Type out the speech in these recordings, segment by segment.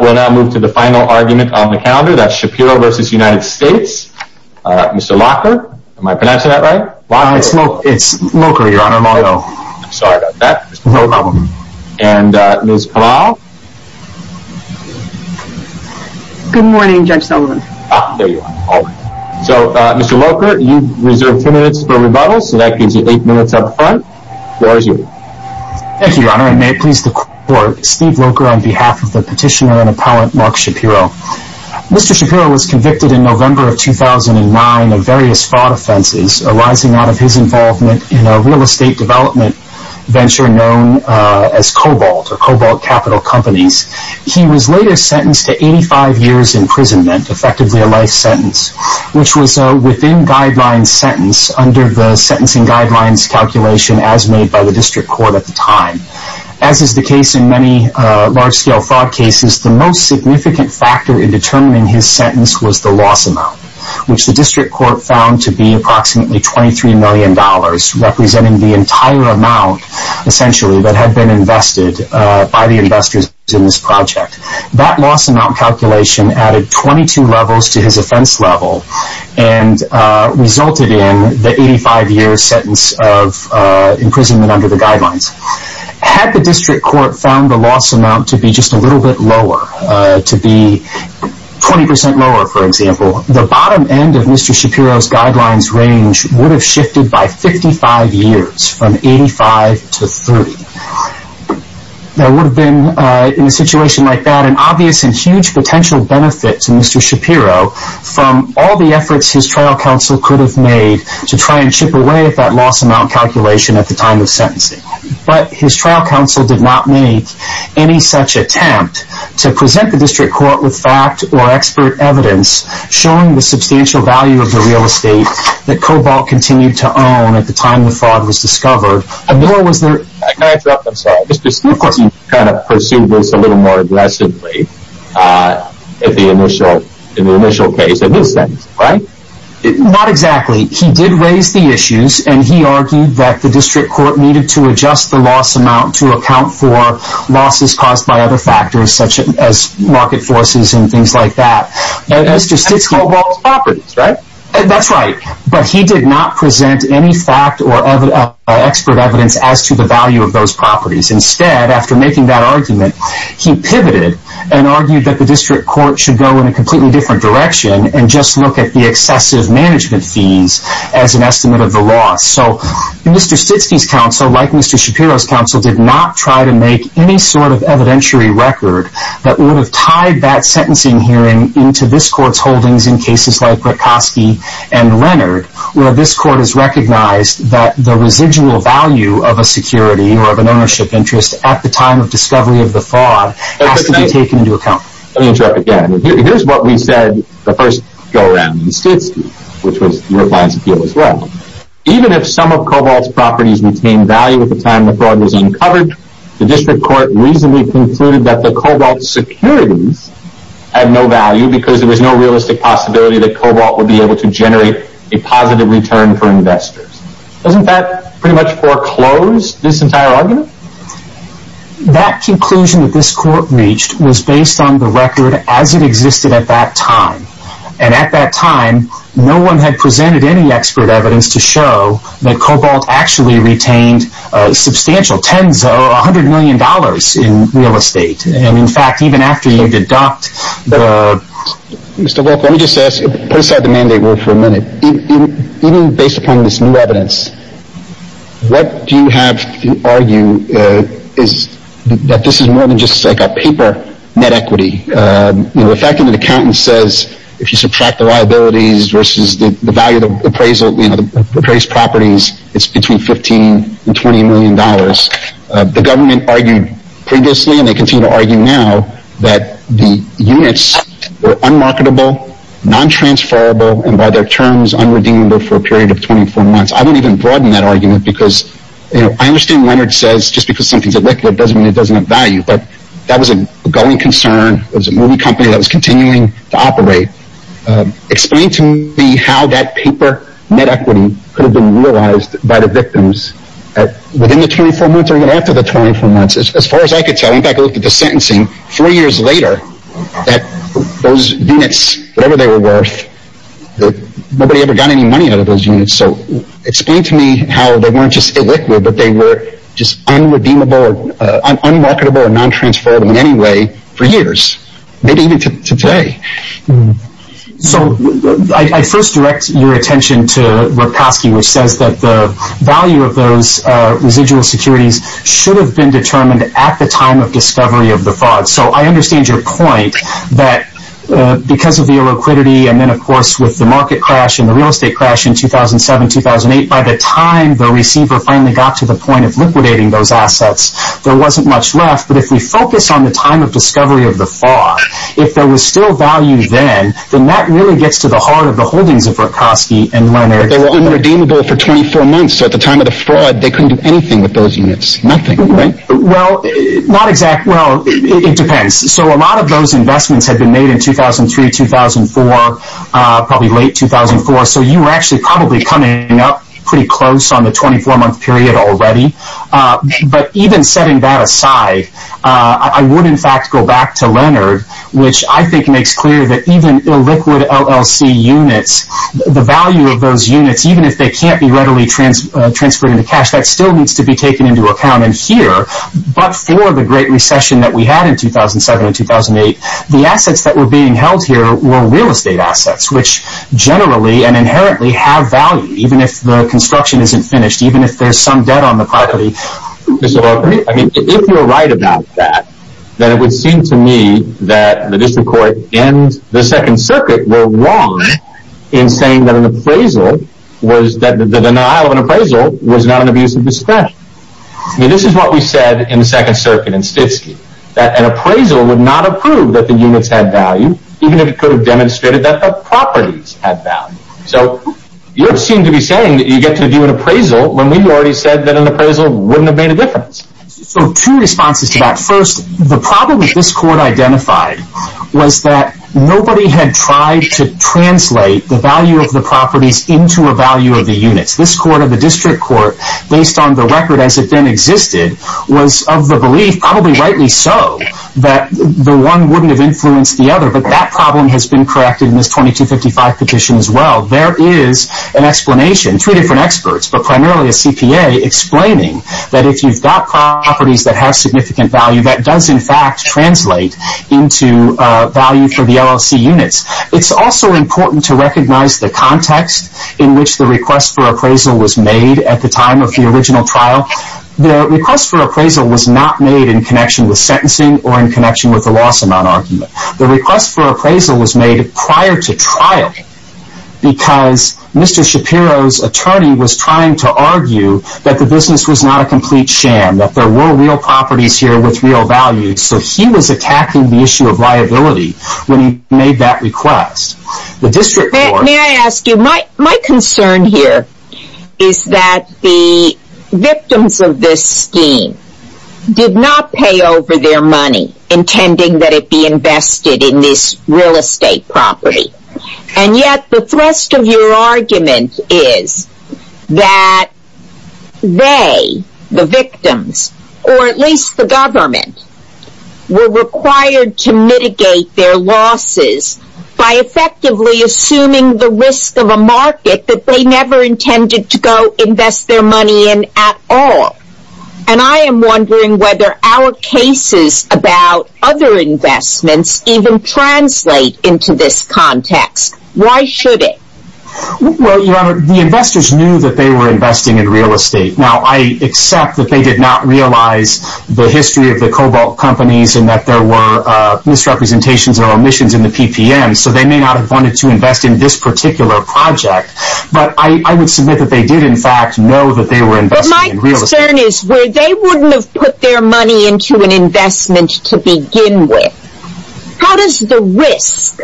We'll now move to the final argument on the calendar, that's Shapiro v. United States. Mr. Locher, am I pronouncing that right? It's Locher, Your Honor. I'm sorry about that. No problem. And Ms. Palau? Good morning, Judge Sullivan. Ah, there you are. So, Mr. Locher, you've reserved two minutes for rebuttal, so that gives you eight minutes up front. The floor is yours. Thank you, Your Honor, and may it please the Court, Steve Locher on behalf of the petitioner and appellant Mark Shapiro. Mr. Shapiro was convicted in November of 2009 of various fraud offenses arising out of his involvement in a real estate development venture known as Cobalt, or Cobalt Capital Companies. He was later sentenced to 85 years imprisonment, effectively a life sentence, which was a within-guidelines sentence under the sentencing guidelines calculation as made by the District Court at the time. As is the case in many large-scale fraud cases, the most significant factor in determining his sentence was the loss amount, which the District Court found to be approximately $23 million, representing the entire amount, essentially, that had been invested by the investors in this project. That loss amount calculation added 22 levels to his offense level and resulted in the 85-year sentence of imprisonment under the guidelines. Had the District Court found the loss amount to be just a little bit lower, to be 20% lower, for example, the bottom end of Mr. Shapiro's guidelines range would have shifted by 55 years, from 85 to 30. There would have been, in a situation like that, an obvious and huge potential benefit to Mr. Shapiro from all the efforts his trial counsel could have made to try and chip away at that loss amount calculation at the time of sentencing. But his trial counsel did not make any such attempt to present the District Court with fact or expert evidence showing the substantial value of the real estate that Cobalt continued to own at the time the fraud was discovered. Can I interrupt? I'm sorry. Mr. Stitsky kind of pursued this a little more aggressively in the initial case of his sentence, right? Not exactly. He did raise the issues, and he argued that the District Court needed to adjust the loss amount to account for losses caused by other factors, such as market forces and things like that. And that's Cobalt's properties, right? That's right. But he did not present any fact or expert evidence as to the value of those properties. Instead, after making that argument, he pivoted and argued that the District Court should go in a completely different direction and just look at the excessive management fees as an estimate of the loss. So Mr. Stitsky's counsel, like Mr. Shapiro's counsel, did not try to make any sort of evidentiary record that would have tied that sentencing hearing into this Court's holdings in cases like Rutkoski and Leonard, where this Court has recognized that the residual value of a security or of an ownership interest at the time of discovery of the fraud has to be taken into account. Let me interrupt again. Here's what we said the first go-around in Stitsky, which was your client's appeal as well. Even if some of Cobalt's properties retained value at the time the fraud was uncovered, the District Court reasonably concluded that the Cobalt securities had no value because there was no realistic possibility that Cobalt would be able to generate a positive return for investors. Doesn't that pretty much foreclose this entire argument? That conclusion that this Court reached was based on the record as it existed at that time. And at that time, no one had presented any expert evidence to show that Cobalt actually retained substantial $100 million in real estate. Mr. Wilk, let me just put aside the mandate word for a minute. Even based upon this new evidence, what you have to argue is that this is more than just a paper net equity. The fact that an accountant says if you subtract the liabilities versus the value of the appraised properties, it's between $15 and $20 million. The government argued previously, and they continue to argue now, that the units were unmarketable, non-transferable, and by their terms, unredeemable for a period of 24 months. I won't even broaden that argument because I understand Leonard says just because something is illegal doesn't mean it doesn't have value. But that was an ongoing concern. It was a movie company that was continuing to operate. Explain to me how that paper net equity could have been realized by the victims within the 24 months or even after the 24 months. As far as I could tell, in fact, I looked at the sentencing four years later, that those units, whatever they were worth, nobody ever got any money out of those units. Explain to me how they weren't just illiquid, but they were just unredeemable, unmarketable, and non-transferable in any way for years, maybe even to today. I first direct your attention to Lepkoski, which says that the value of those residual securities should have been determined at the time of discovery of the fraud. I understand your point that because of the illiquidity and then, of course, with the market crash and the real estate crash in 2007-2008, by the time the receiver finally got to the point of liquidating those assets, there wasn't much left. But if we focus on the time of discovery of the fraud, if there was still value then, then that really gets to the heart of the holdings of Lepkoski and Leonard. They were unredeemable for 24 months, so at the time of the fraud, they couldn't do anything with those units, nothing, right? Well, it depends. A lot of those investments had been made in 2003-2004, probably late 2004, so you were actually probably coming up pretty close on the 24-month period already. But even setting that aside, I would, in fact, go back to Leonard, which I think makes clear that even illiquid LLC units, the value of those units, even if they can't be readily transferred into cash, that still needs to be taken into account. But for the great recession that we had in 2007-2008, the assets that were being held here were real estate assets, which generally and inherently have value, even if the construction isn't finished, even if there's some debt on the property. I mean, if you're right about that, then it would seem to me that the District Court and the Second Circuit were wrong in saying that the denial of an appraisal was not an abuse of discretion. I mean, this is what we said in the Second Circuit in Stitsky, that an appraisal would not approve that the units had value, even if it could have demonstrated that the properties had value. So you seem to be saying that you get to do an appraisal when we've already said that an appraisal wouldn't have made a difference. So two responses to that. First, the problem that this Court identified was that nobody had tried to translate the value of the properties into a value of the units. This Court of the District Court, based on the record as it then existed, was of the belief, probably rightly so, that the one wouldn't have influenced the other. But that problem has been corrected in this 2255 petition as well. There is an explanation, three different experts, but primarily a CPA, explaining that if you've got properties that have significant value, that does in fact translate into value for the LLC units. It's also important to recognize the context in which the request for appraisal was made at the time of the original trial. The request for appraisal was not made in connection with sentencing or in connection with the loss amount argument. The request for appraisal was made prior to trial because Mr. Shapiro's attorney was trying to argue that the business was not a complete sham, that there were real properties here with real value. So he was attacking the issue of liability when he made that request. May I ask you, my concern here is that the victims of this scheme did not pay over their money intending that it be invested in this real estate property. And yet the thrust of your argument is that they, the victims, or at least the government, were required to mitigate their losses by effectively assuming the risk of a market that they never intended to go invest their money in at all. And I am wondering whether our cases about other investments even translate into this context. Why should it? Well, Your Honor, the investors knew that they were investing in real estate. Now, I accept that they did not realize the history of the Cobalt companies and that there were misrepresentations or omissions in the PPM, so they may not have wanted to invest in this particular project. But I would submit that they did in fact know that they were investing in real estate. My concern is where they wouldn't have put their money into an investment to begin with. How does the risk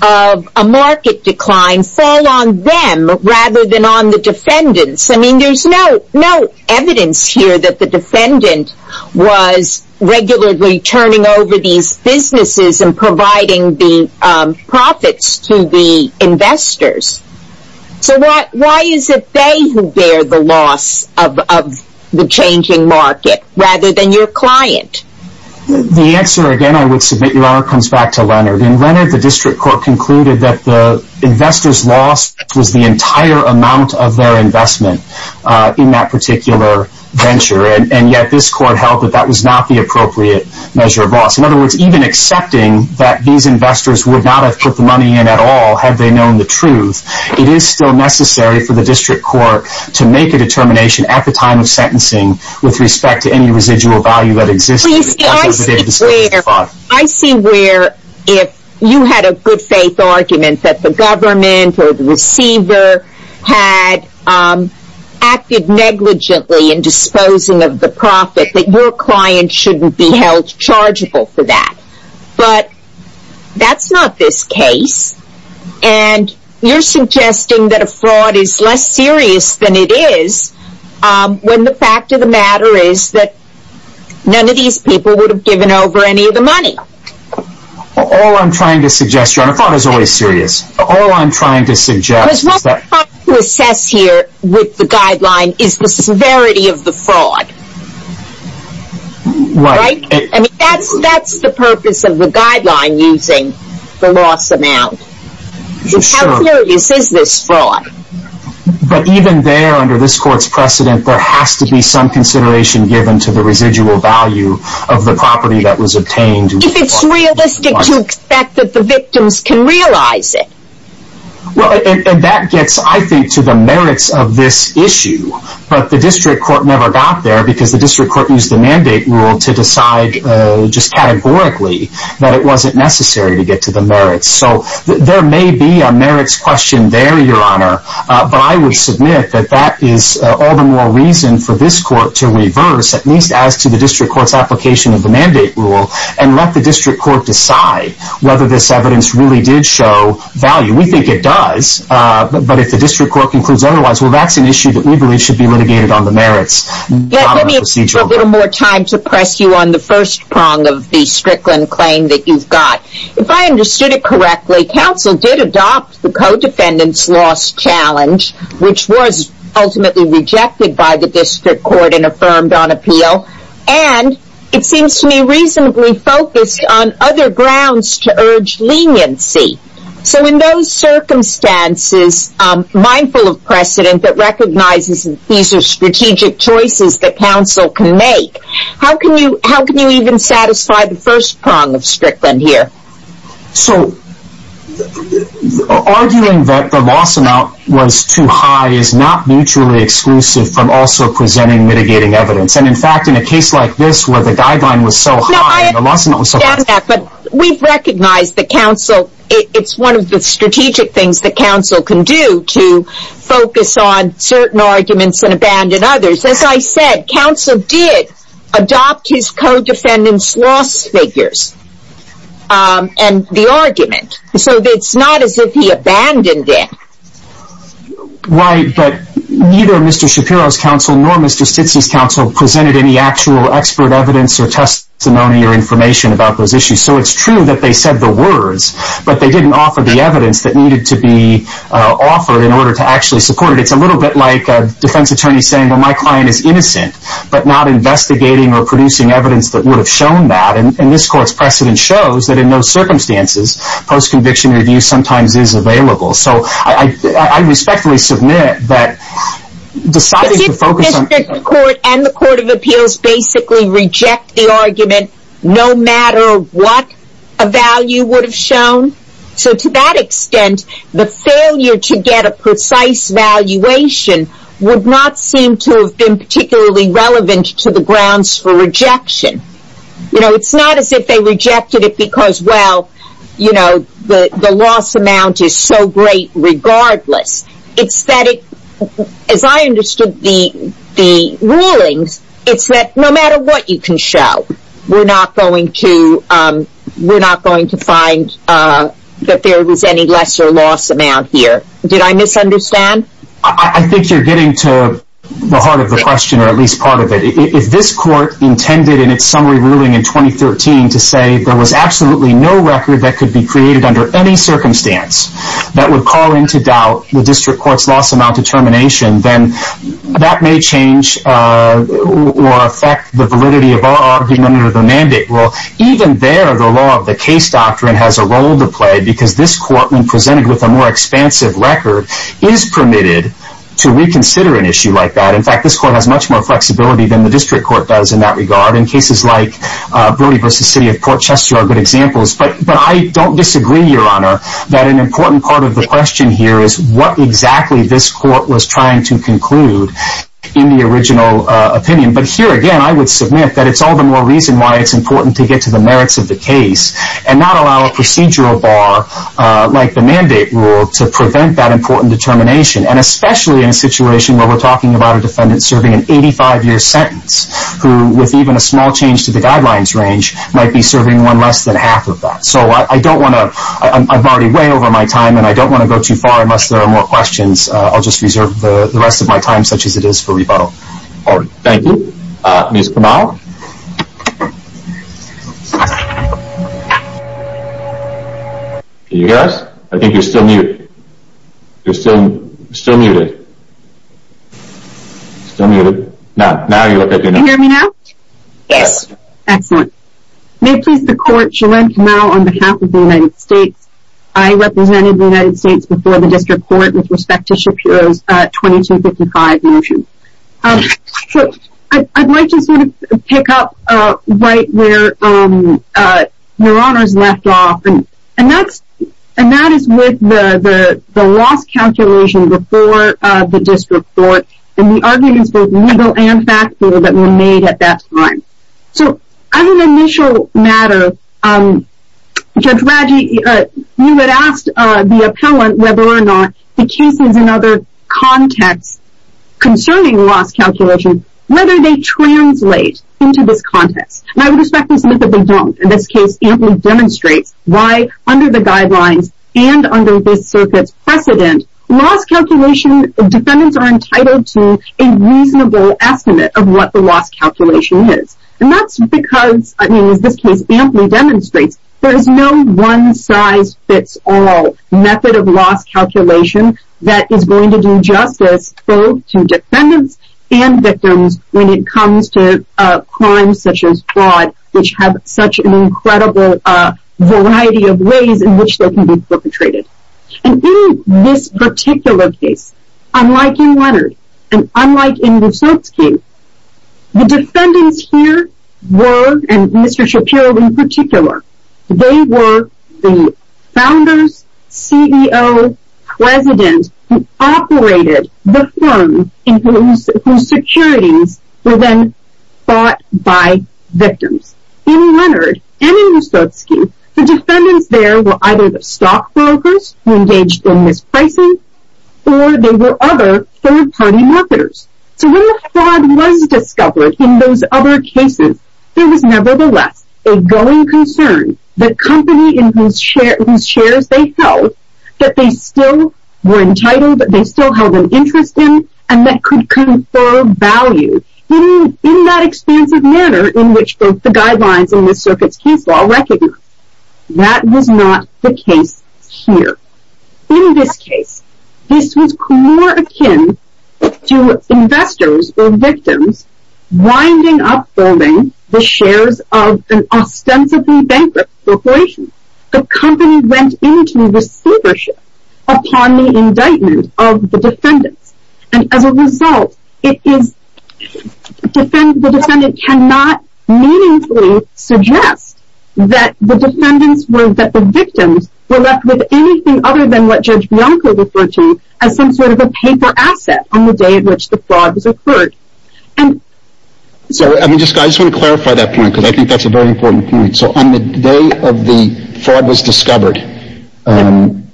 of a market decline fall on them rather than on the defendants? I mean, there's no evidence here that the defendant was regularly turning over these businesses and providing the profits to the investors. So why is it they who bear the loss of the changing market rather than your client? The answer, again, I would submit, Your Honor, comes back to Leonard. And Leonard, the district court concluded that the investors' loss was the entire amount of their investment in that particular venture. And yet this court held that that was not the appropriate measure of loss. In other words, even accepting that these investors would not have put the money in at all had they known the truth, it is still necessary for the district court to make a determination at the time of sentencing with respect to any residual value that existed. I see where, if you had a good faith argument that the government or the receiver had acted negligently in disposing of the profit, that your client shouldn't be held chargeable for that. But that's not this case. And you're suggesting that a fraud is less serious than it is when the fact of the matter is that none of these people would have given over any of the money. All I'm trying to suggest, Your Honor, fraud is always serious. All I'm trying to suggest is that... Because what I'm trying to assess here with the guideline is the severity of the fraud. That's the purpose of the guideline, using the loss amount. How serious is this fraud? But even there, under this court's precedent, there has to be some consideration given to the residual value of the property that was obtained. If it's realistic to expect that the victims can realize it. That gets, I think, to the merits of this issue. But the district court never got there because the district court used the mandate rule to decide, just categorically, that it wasn't necessary to get to the merits. There may be a merits question there, Your Honor. But I would submit that that is all the more reason for this court to reverse, at least as to the district court's application of the mandate rule, and let the district court decide whether this evidence really did show value. We think it does. But if the district court concludes otherwise, well, that's an issue that we believe should be litigated on the merits. Let me ask you for a little more time to press you on the first prong of the Strickland claim that you've got. If I understood it correctly, counsel did adopt the co-defendant's loss challenge, which was ultimately rejected by the district court and affirmed on appeal. And it seems to me reasonably focused on other grounds to urge leniency. So in those circumstances, mindful of precedent that recognizes these are strategic choices that counsel can make, how can you even satisfy the first prong of Strickland here? So, arguing that the loss amount was too high is not mutually exclusive from also presenting mitigating evidence. And in fact, in a case like this where the guideline was so high and the loss amount was so high... No, I understand that. But we've recognized that counsel, it's one of the strategic things that counsel can do to focus on certain arguments and abandon others. As I said, counsel did adopt his co-defendant's loss figures and the argument. So it's not as if he abandoned it. Right, but neither Mr. Shapiro's counsel nor Mr. Stitz's counsel presented any actual expert evidence or testimony or information about those issues. So it's true that they said the words, but they didn't offer the evidence that needed to be offered in order to actually support it. It's a little bit like a defense attorney saying, well, my client is innocent, but not investigating or producing evidence that would have shown that. And this court's precedent shows that in those circumstances, post-conviction review sometimes is available. So I respectfully submit that deciding to focus on... Does the district court and the court of appeals basically reject the argument no matter what a value would have shown? So to that extent, the failure to get a precise valuation would not seem to have been particularly relevant to the grounds for rejection. It's not as if they rejected it because, well, the loss amount is so great regardless. It's that, as I understood the rulings, it's that no matter what you can show, we're not going to find that there was any lesser loss amount here. Did I misunderstand? I think you're getting to the heart of the question or at least part of it. If this court intended in its summary ruling in 2013 to say there was absolutely no record that could be created under any circumstance that would call into doubt the district court's loss amount determination, then that may change or affect the validity of our argument or the mandate. Well, even there, the law of the case doctrine has a role to play because this court, when presented with a more expansive record, is permitted to reconsider an issue like that. In fact, this court has much more flexibility than the district court does in that regard. And cases like Brody v. City of Port Chester are good examples. But I don't disagree, Your Honor, that an important part of the question here is what exactly this court was trying to conclude in the original opinion. But here again, I would submit that it's all the more reason why it's important to get to the merits of the case and not allow a procedural bar like the mandate rule to prevent that important determination. And especially in a situation where we're talking about a defendant serving an 85-year sentence, who, with even a small change to the guidelines range, might be serving one less than half of that. So I don't want to – I'm already way over my time, and I don't want to go too far unless there are more questions. I'll just reserve the rest of my time such as it is for rebuttal. All right. Thank you. Ms. Kamau? Ms. Kamau? Can you hear us? I think you're still muted. You're still muted. Can you hear me now? Yes. Excellent. May it please the Court, JoLynn Kamau on behalf of the United States. I represented the United States before the district court with respect to Shapiro's 2255 motion. So I'd like to sort of pick up right where Your Honor's left off, and that is with the loss calculation before the district court and the arguments, both legal and factual, that were made at that time. So as an initial matter, Judge Raggi, you had asked the appellant, whether or not, the cases in other contexts concerning loss calculation, whether they translate into this context. And I would respect this myth that they don't. In this case, Ampley demonstrates why under the guidelines and under this circuit's precedent, loss calculation defendants are entitled to a reasonable estimate of what the loss calculation is. And that's because, I mean, as this case Ampley demonstrates, there is no one-size-fits-all method of loss calculation that is going to do justice, both to defendants and victims, when it comes to crimes such as fraud, which have such an incredible variety of ways in which they can be perpetrated. And in this particular case, unlike in Leonard, and unlike in Wysotzki, the defendants here were, and Mr. Shapiro in particular, they were the founders, CEO, president, who operated the firm, and whose securities were then bought by victims. In Leonard, and in Wysotzki, the defendants there were either the stockbrokers, who engaged in this pricing, or they were other third-party marketers. So when the fraud was discovered in those other cases, there was nevertheless a going concern that company in whose shares they held, that they still were entitled, that they still held an interest in, and that could confer value in that expansive manner in which both the guidelines and this circuit's case law recognize. That was not the case here. In this case, this was more akin to investors, or victims, winding up holding the shares of an ostensibly bankrupt corporation. The company went into receivership upon the indictment of the defendants. And as a result, it is, the defendant cannot meaningfully suggest that the victims were left with anything other than what Judge Bianco referred to as some sort of a paper asset on the day in which the fraud occurred. I just want to clarify that point, because I think that's a very important point. So on the day of the fraud was discovered,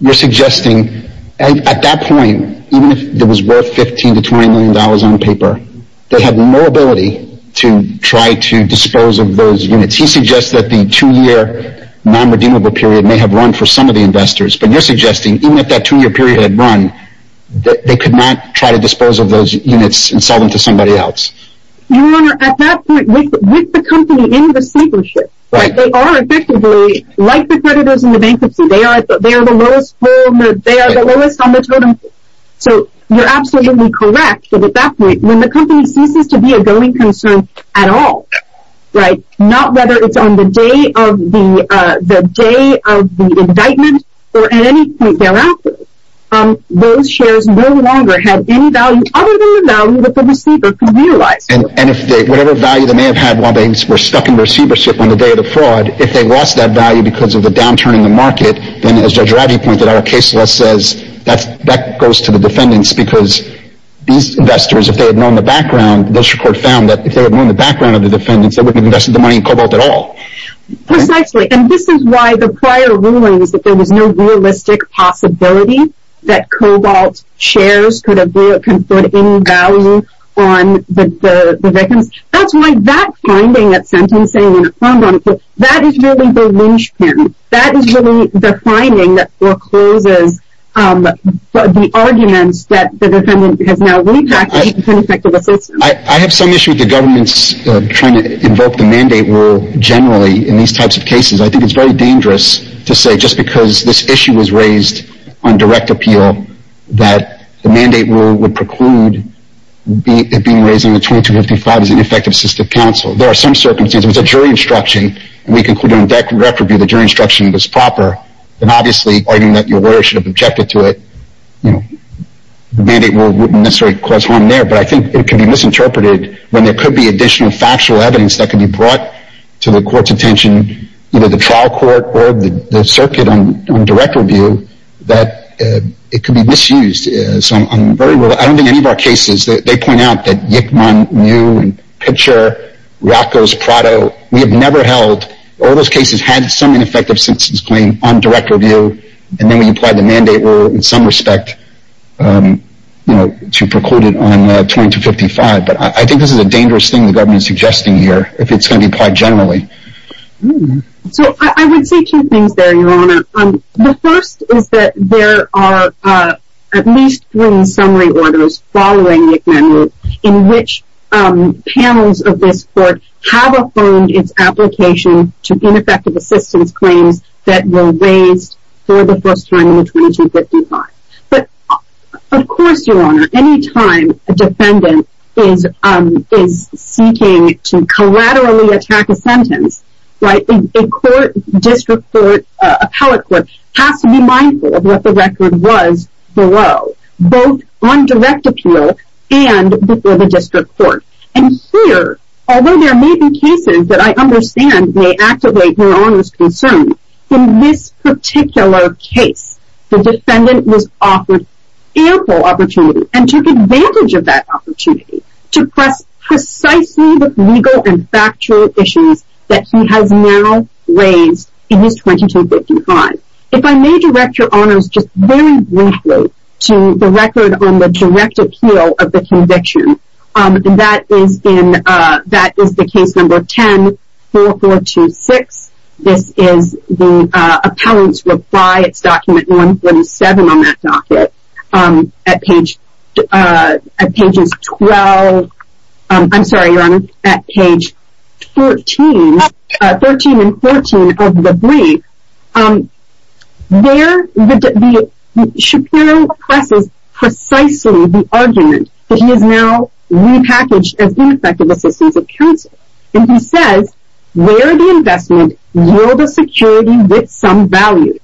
you're suggesting, at that point, even if it was worth 15 to 20 million dollars on paper, they had no ability to try to dispose of those units. He suggests that the two-year non-redeemable period may have run for some of the investors. But you're suggesting, even if that two-year period had run, they could not try to dispose of those units and sell them to somebody else. Your Honor, at that point, with the company in the receivership, they are effectively, like the creditors in the bankruptcy, they are the lowest on the totem pole. So you're absolutely correct that at that point, when the company ceases to be a going concern at all, not whether it's on the day of the indictment or at any point thereafter, those shares no longer have any value other than the value that the receiver could realize. And if whatever value they may have had while they were stuck in receivership on the day of the fraud, if they lost that value because of the downturn in the market, then as Judge Radji pointed out, our case law says that goes to the defendants, because these investors, if they had known the background, they wouldn't have invested the money in Cobalt at all. Precisely. And this is why the prior ruling was that there was no realistic possibility that Cobalt shares could have put any value on the victims. That's why that finding at sentencing, that is really the linchpin. That is really the finding that forecloses the arguments that the defendant has now repackaged in effect of the system. I have some issue with the government's trying to invoke the mandate rule generally in these types of cases. I think it's very dangerous to say just because this issue was raised on direct appeal that the mandate rule would preclude it being raised in the 2255 as an effective system of counsel. There are some circumstances, there was a jury instruction, and we concluded on direct review that the jury instruction was proper, and obviously arguing that your lawyer should have objected to it, the mandate rule wouldn't necessarily cause harm there, but I think it could be misinterpreted when there could be additional factual evidence that could be brought to the court's attention, either the trial court or the circuit on direct review, that it could be misused. I don't think any of our cases, they point out that Yikman, Mew, Pitcher, Rocco's, Prado, we have never held, all those cases had some ineffective sentence claim on direct review, and then we applied the mandate rule in some respect to preclude it on 2255, but I think this is a dangerous thing the government is suggesting here, if it's going to be applied generally. So I would say two things there, Your Honor. The first is that there are at least three summary orders following Yikman, in which panels of this court have affirmed its application to ineffective assistance claims that were raised for the first time in 2255. But of course, Your Honor, any time a defendant is seeking to collaterally attack a sentence, a court, district court, appellate court, has to be mindful of what the record was below, both on direct appeal and before the district court. And here, although there may be cases that I understand may activate Your Honor's concern, in this particular case, the defendant was offered ample opportunity, and took advantage of that opportunity to press precisely the legal and factual issues that he has now raised in this 2255. If I may, Director Honors, just very briefly to the record on the direct appeal of the conviction, that is the case number 104426. This is the appellant's reply, it's document 147 on that document, at pages 12, I'm sorry, Your Honor, at page 13 and 14 of the brief. There, Shapiro presses precisely the argument that he has now repackaged as ineffective assistance of counsel. And he says, where the investment yielded security with some value,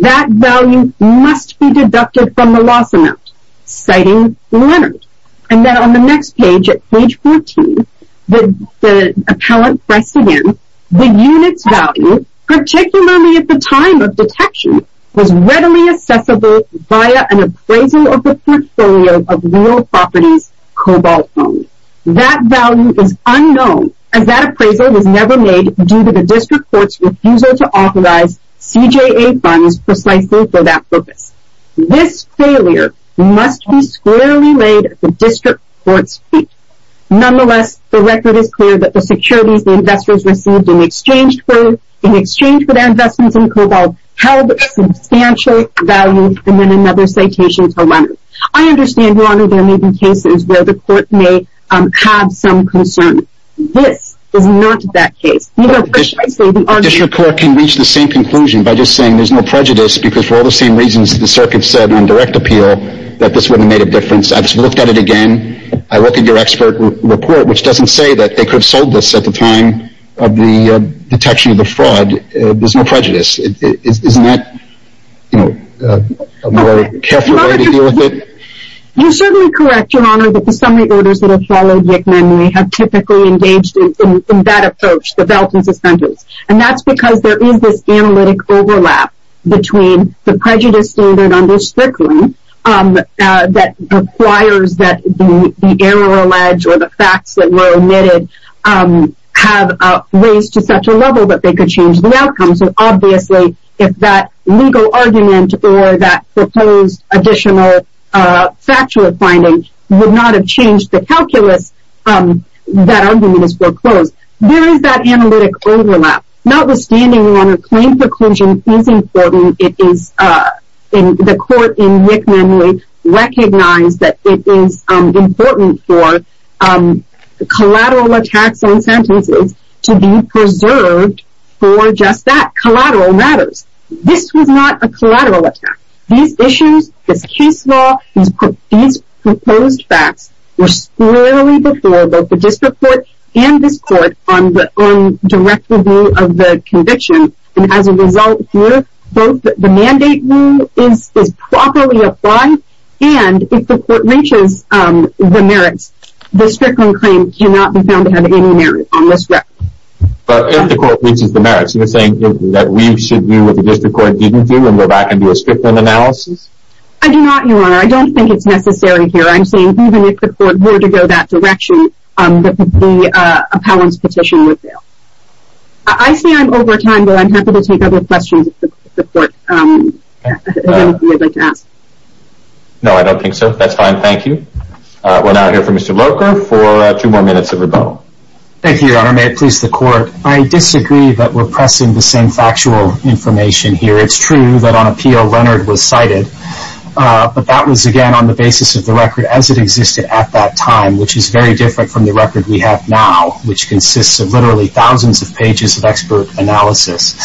that value must be deducted from the loss amount, citing Leonard. And then on the next page, at page 14, the appellant pressed again, the unit's value, particularly at the time of detection, was readily accessible via an appraisal of the portfolio of real properties, cobalt found. That value is unknown, as that appraisal was never made due to the district court's refusal to authorize CJA funds precisely for that purpose. This failure must be squarely laid at the district court's feet. Nonetheless, the record is clear that the securities the investors received in exchange for their investments in cobalt held substantial value, and then another citation for Leonard. I understand, Your Honor, there may be cases where the court may have some concern. This is not that case. The district court can reach the same conclusion by just saying there's no prejudice, because for all the same reasons the circuit said on direct appeal, that this wouldn't have made a difference. I've looked at it again. I looked at your expert report, which doesn't say that they could have sold this at the time of the detection of the fraud. There's no prejudice. Isn't that a more careful way to deal with it? You're certainly correct, Your Honor, that the summary orders that have followed Yickman may have typically engaged in that approach, the belt and suspenders. And that's because there is this analytic overlap between the prejudice standard under Strickland that requires that the error alleged or the facts that were omitted have raised to such a level that they could change the outcome. So obviously, if that legal argument or that proposed additional factual finding would not have changed the calculus, that argument is foreclosed. There is that analytic overlap. Notwithstanding, Your Honor, claim preclusion is important. The court in Yickman recognized that it is important for collateral attacks on sentences to be preserved for just that, collateral matters. This was not a collateral attack. These issues, this case law, these proposed facts were clearly before both the district court and this court on direct review of the conviction. And as a result here, both the mandate rule is properly applied. And if the court reaches the merits, the Strickland claim cannot be found to have any merit on this record. But if the court reaches the merits, you're saying that we should do what the district court didn't do and go back and do a Strickland analysis? I do not, Your Honor. I don't think it's necessary here. I'm saying even if the court were to go that direction, the appellant's petition would fail. I say I'm over time, but I'm happy to take other questions if the court would like to ask. No, I don't think so. That's fine. Thank you. We'll now hear from Mr. Loker for two more minutes of rebuttal. Thank you, Your Honor. May it please the court. I disagree that we're pressing the same factual information here. It's true that on appeal, Leonard was cited. But that was, again, on the basis of the record as it existed at that time, which is very different from the record we have now, which consists of literally thousands of pages of expert analysis.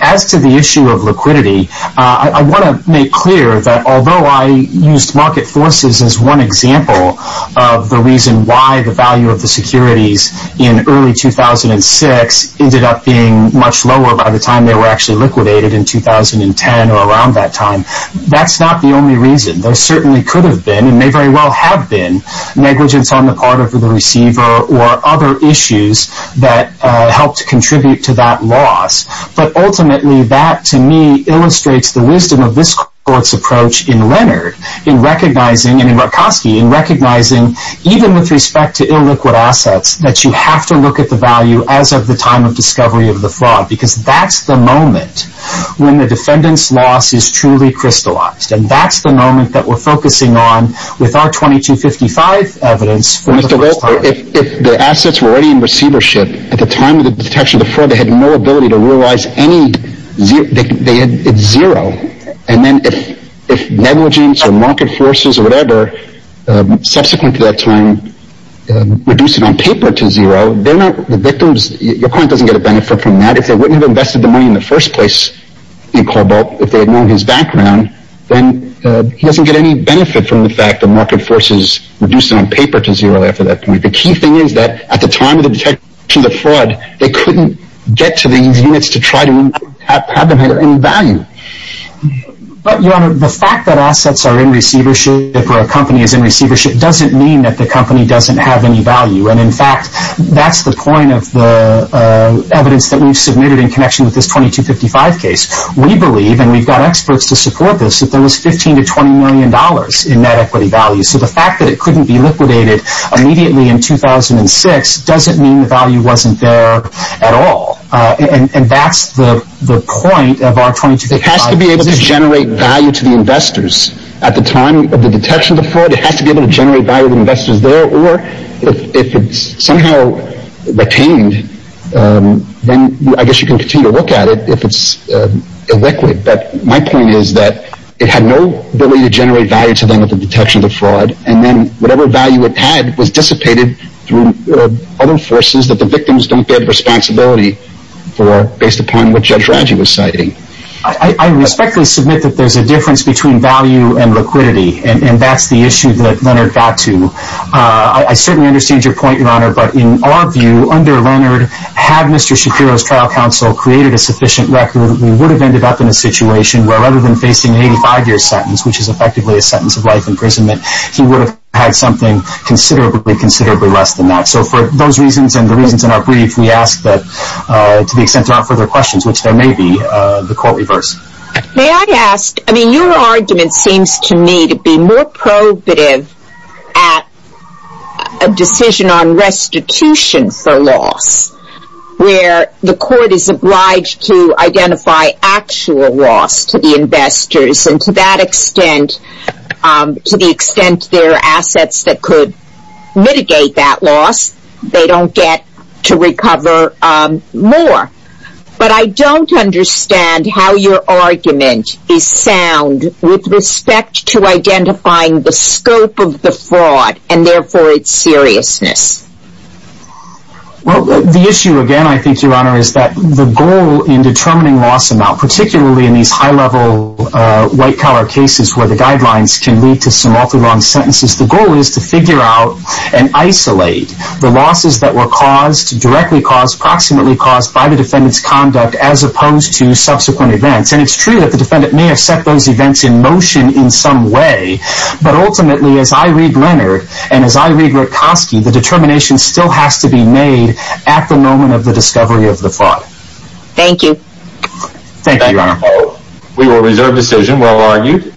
As to the issue of liquidity, I want to make clear that although I used market forces as one example of the reason why the value of the securities in early 2006 ended up being much lower by the time they were actually liquidated in 2010 or around that time, that's not the only reason. There certainly could have been and may very well have been negligence on the part of the receiver or other issues that helped contribute to that loss. But ultimately, that, to me, illustrates the wisdom of this court's approach in Leonard in recognizing, and in Borkoski, in recognizing even with respect to illiquid assets that you have to look at the value as of the time of discovery of the fraud because that's the moment when the defendant's loss is truly crystallized. And that's the moment that we're focusing on with our 2255 evidence for the first time. If the assets were already in receivership at the time of the detection of the fraud, they had no ability to realize it's zero. And then if negligence or market forces or whatever subsequent to that time reduced it on paper to zero, your client doesn't get a benefit from that. If they wouldn't have invested the money in the first place in Cobalt, if they had known his background, then he doesn't get any benefit from the fact that market forces reduced it on paper to zero after that point. The key thing is that at the time of the detection of the fraud, they couldn't get to these units to try to have them have any value. But, Your Honor, the fact that assets are in receivership or a company is in receivership doesn't mean that the company doesn't have any value. And, in fact, that's the point of the evidence that we've submitted in connection with this 2255 case. We believe, and we've got experts to support this, that there was $15 to $20 million in net equity value. So the fact that it couldn't be liquidated immediately in 2006 doesn't mean the value wasn't there at all. And that's the point of our 2255. It has to be able to generate value to the investors at the time of the detection of the fraud. It has to be able to generate value to the investors there. Or, if it's somehow retained, then I guess you can continue to look at it if it's illiquid. But my point is that it had no ability to generate value to them at the detection of the fraud. And then whatever value it had was dissipated through other forces that the victims don't bear the responsibility for, based upon what Judge Raggi was citing. I respectfully submit that there's a difference between value and liquidity. And that's the issue that Leonard got to. I certainly understand your point, Your Honor. But in our view, under Leonard, had Mr. Shapiro's trial counsel created a sufficient record, we would have ended up in a situation where, rather than facing an 85-year sentence, which is effectively a sentence of life imprisonment, he would have had something considerably, considerably less than that. So for those reasons and the reasons in our brief, we ask that, to the extent there aren't further questions, which there may be, the court reversed. May I ask, I mean, your argument seems to me to be more probative at a decision on restitution for loss, where the court is obliged to identify actual loss to the investors. And to that extent, to the extent there are assets that could mitigate that loss, they don't get to recover more. But I don't understand how your argument is sound with respect to identifying the scope of the fraud and, therefore, its seriousness. Well, the issue, again, I think, Your Honor, is that the goal in determining loss amount, particularly in these high-level white-collar cases where the guidelines can lead to some awfully long sentences, the goal is to figure out and isolate the losses that were caused, directly caused, approximately caused by the defendant's conduct as opposed to subsequent events. And it's true that the defendant may have set those events in motion in some way, but ultimately, as I read Leonard and as I read Rutkoski, the determination still has to be made at the moment of the discovery of the fraud. Thank you. Thank you, Your Honor. Thank you. We will reserve decision, well argued.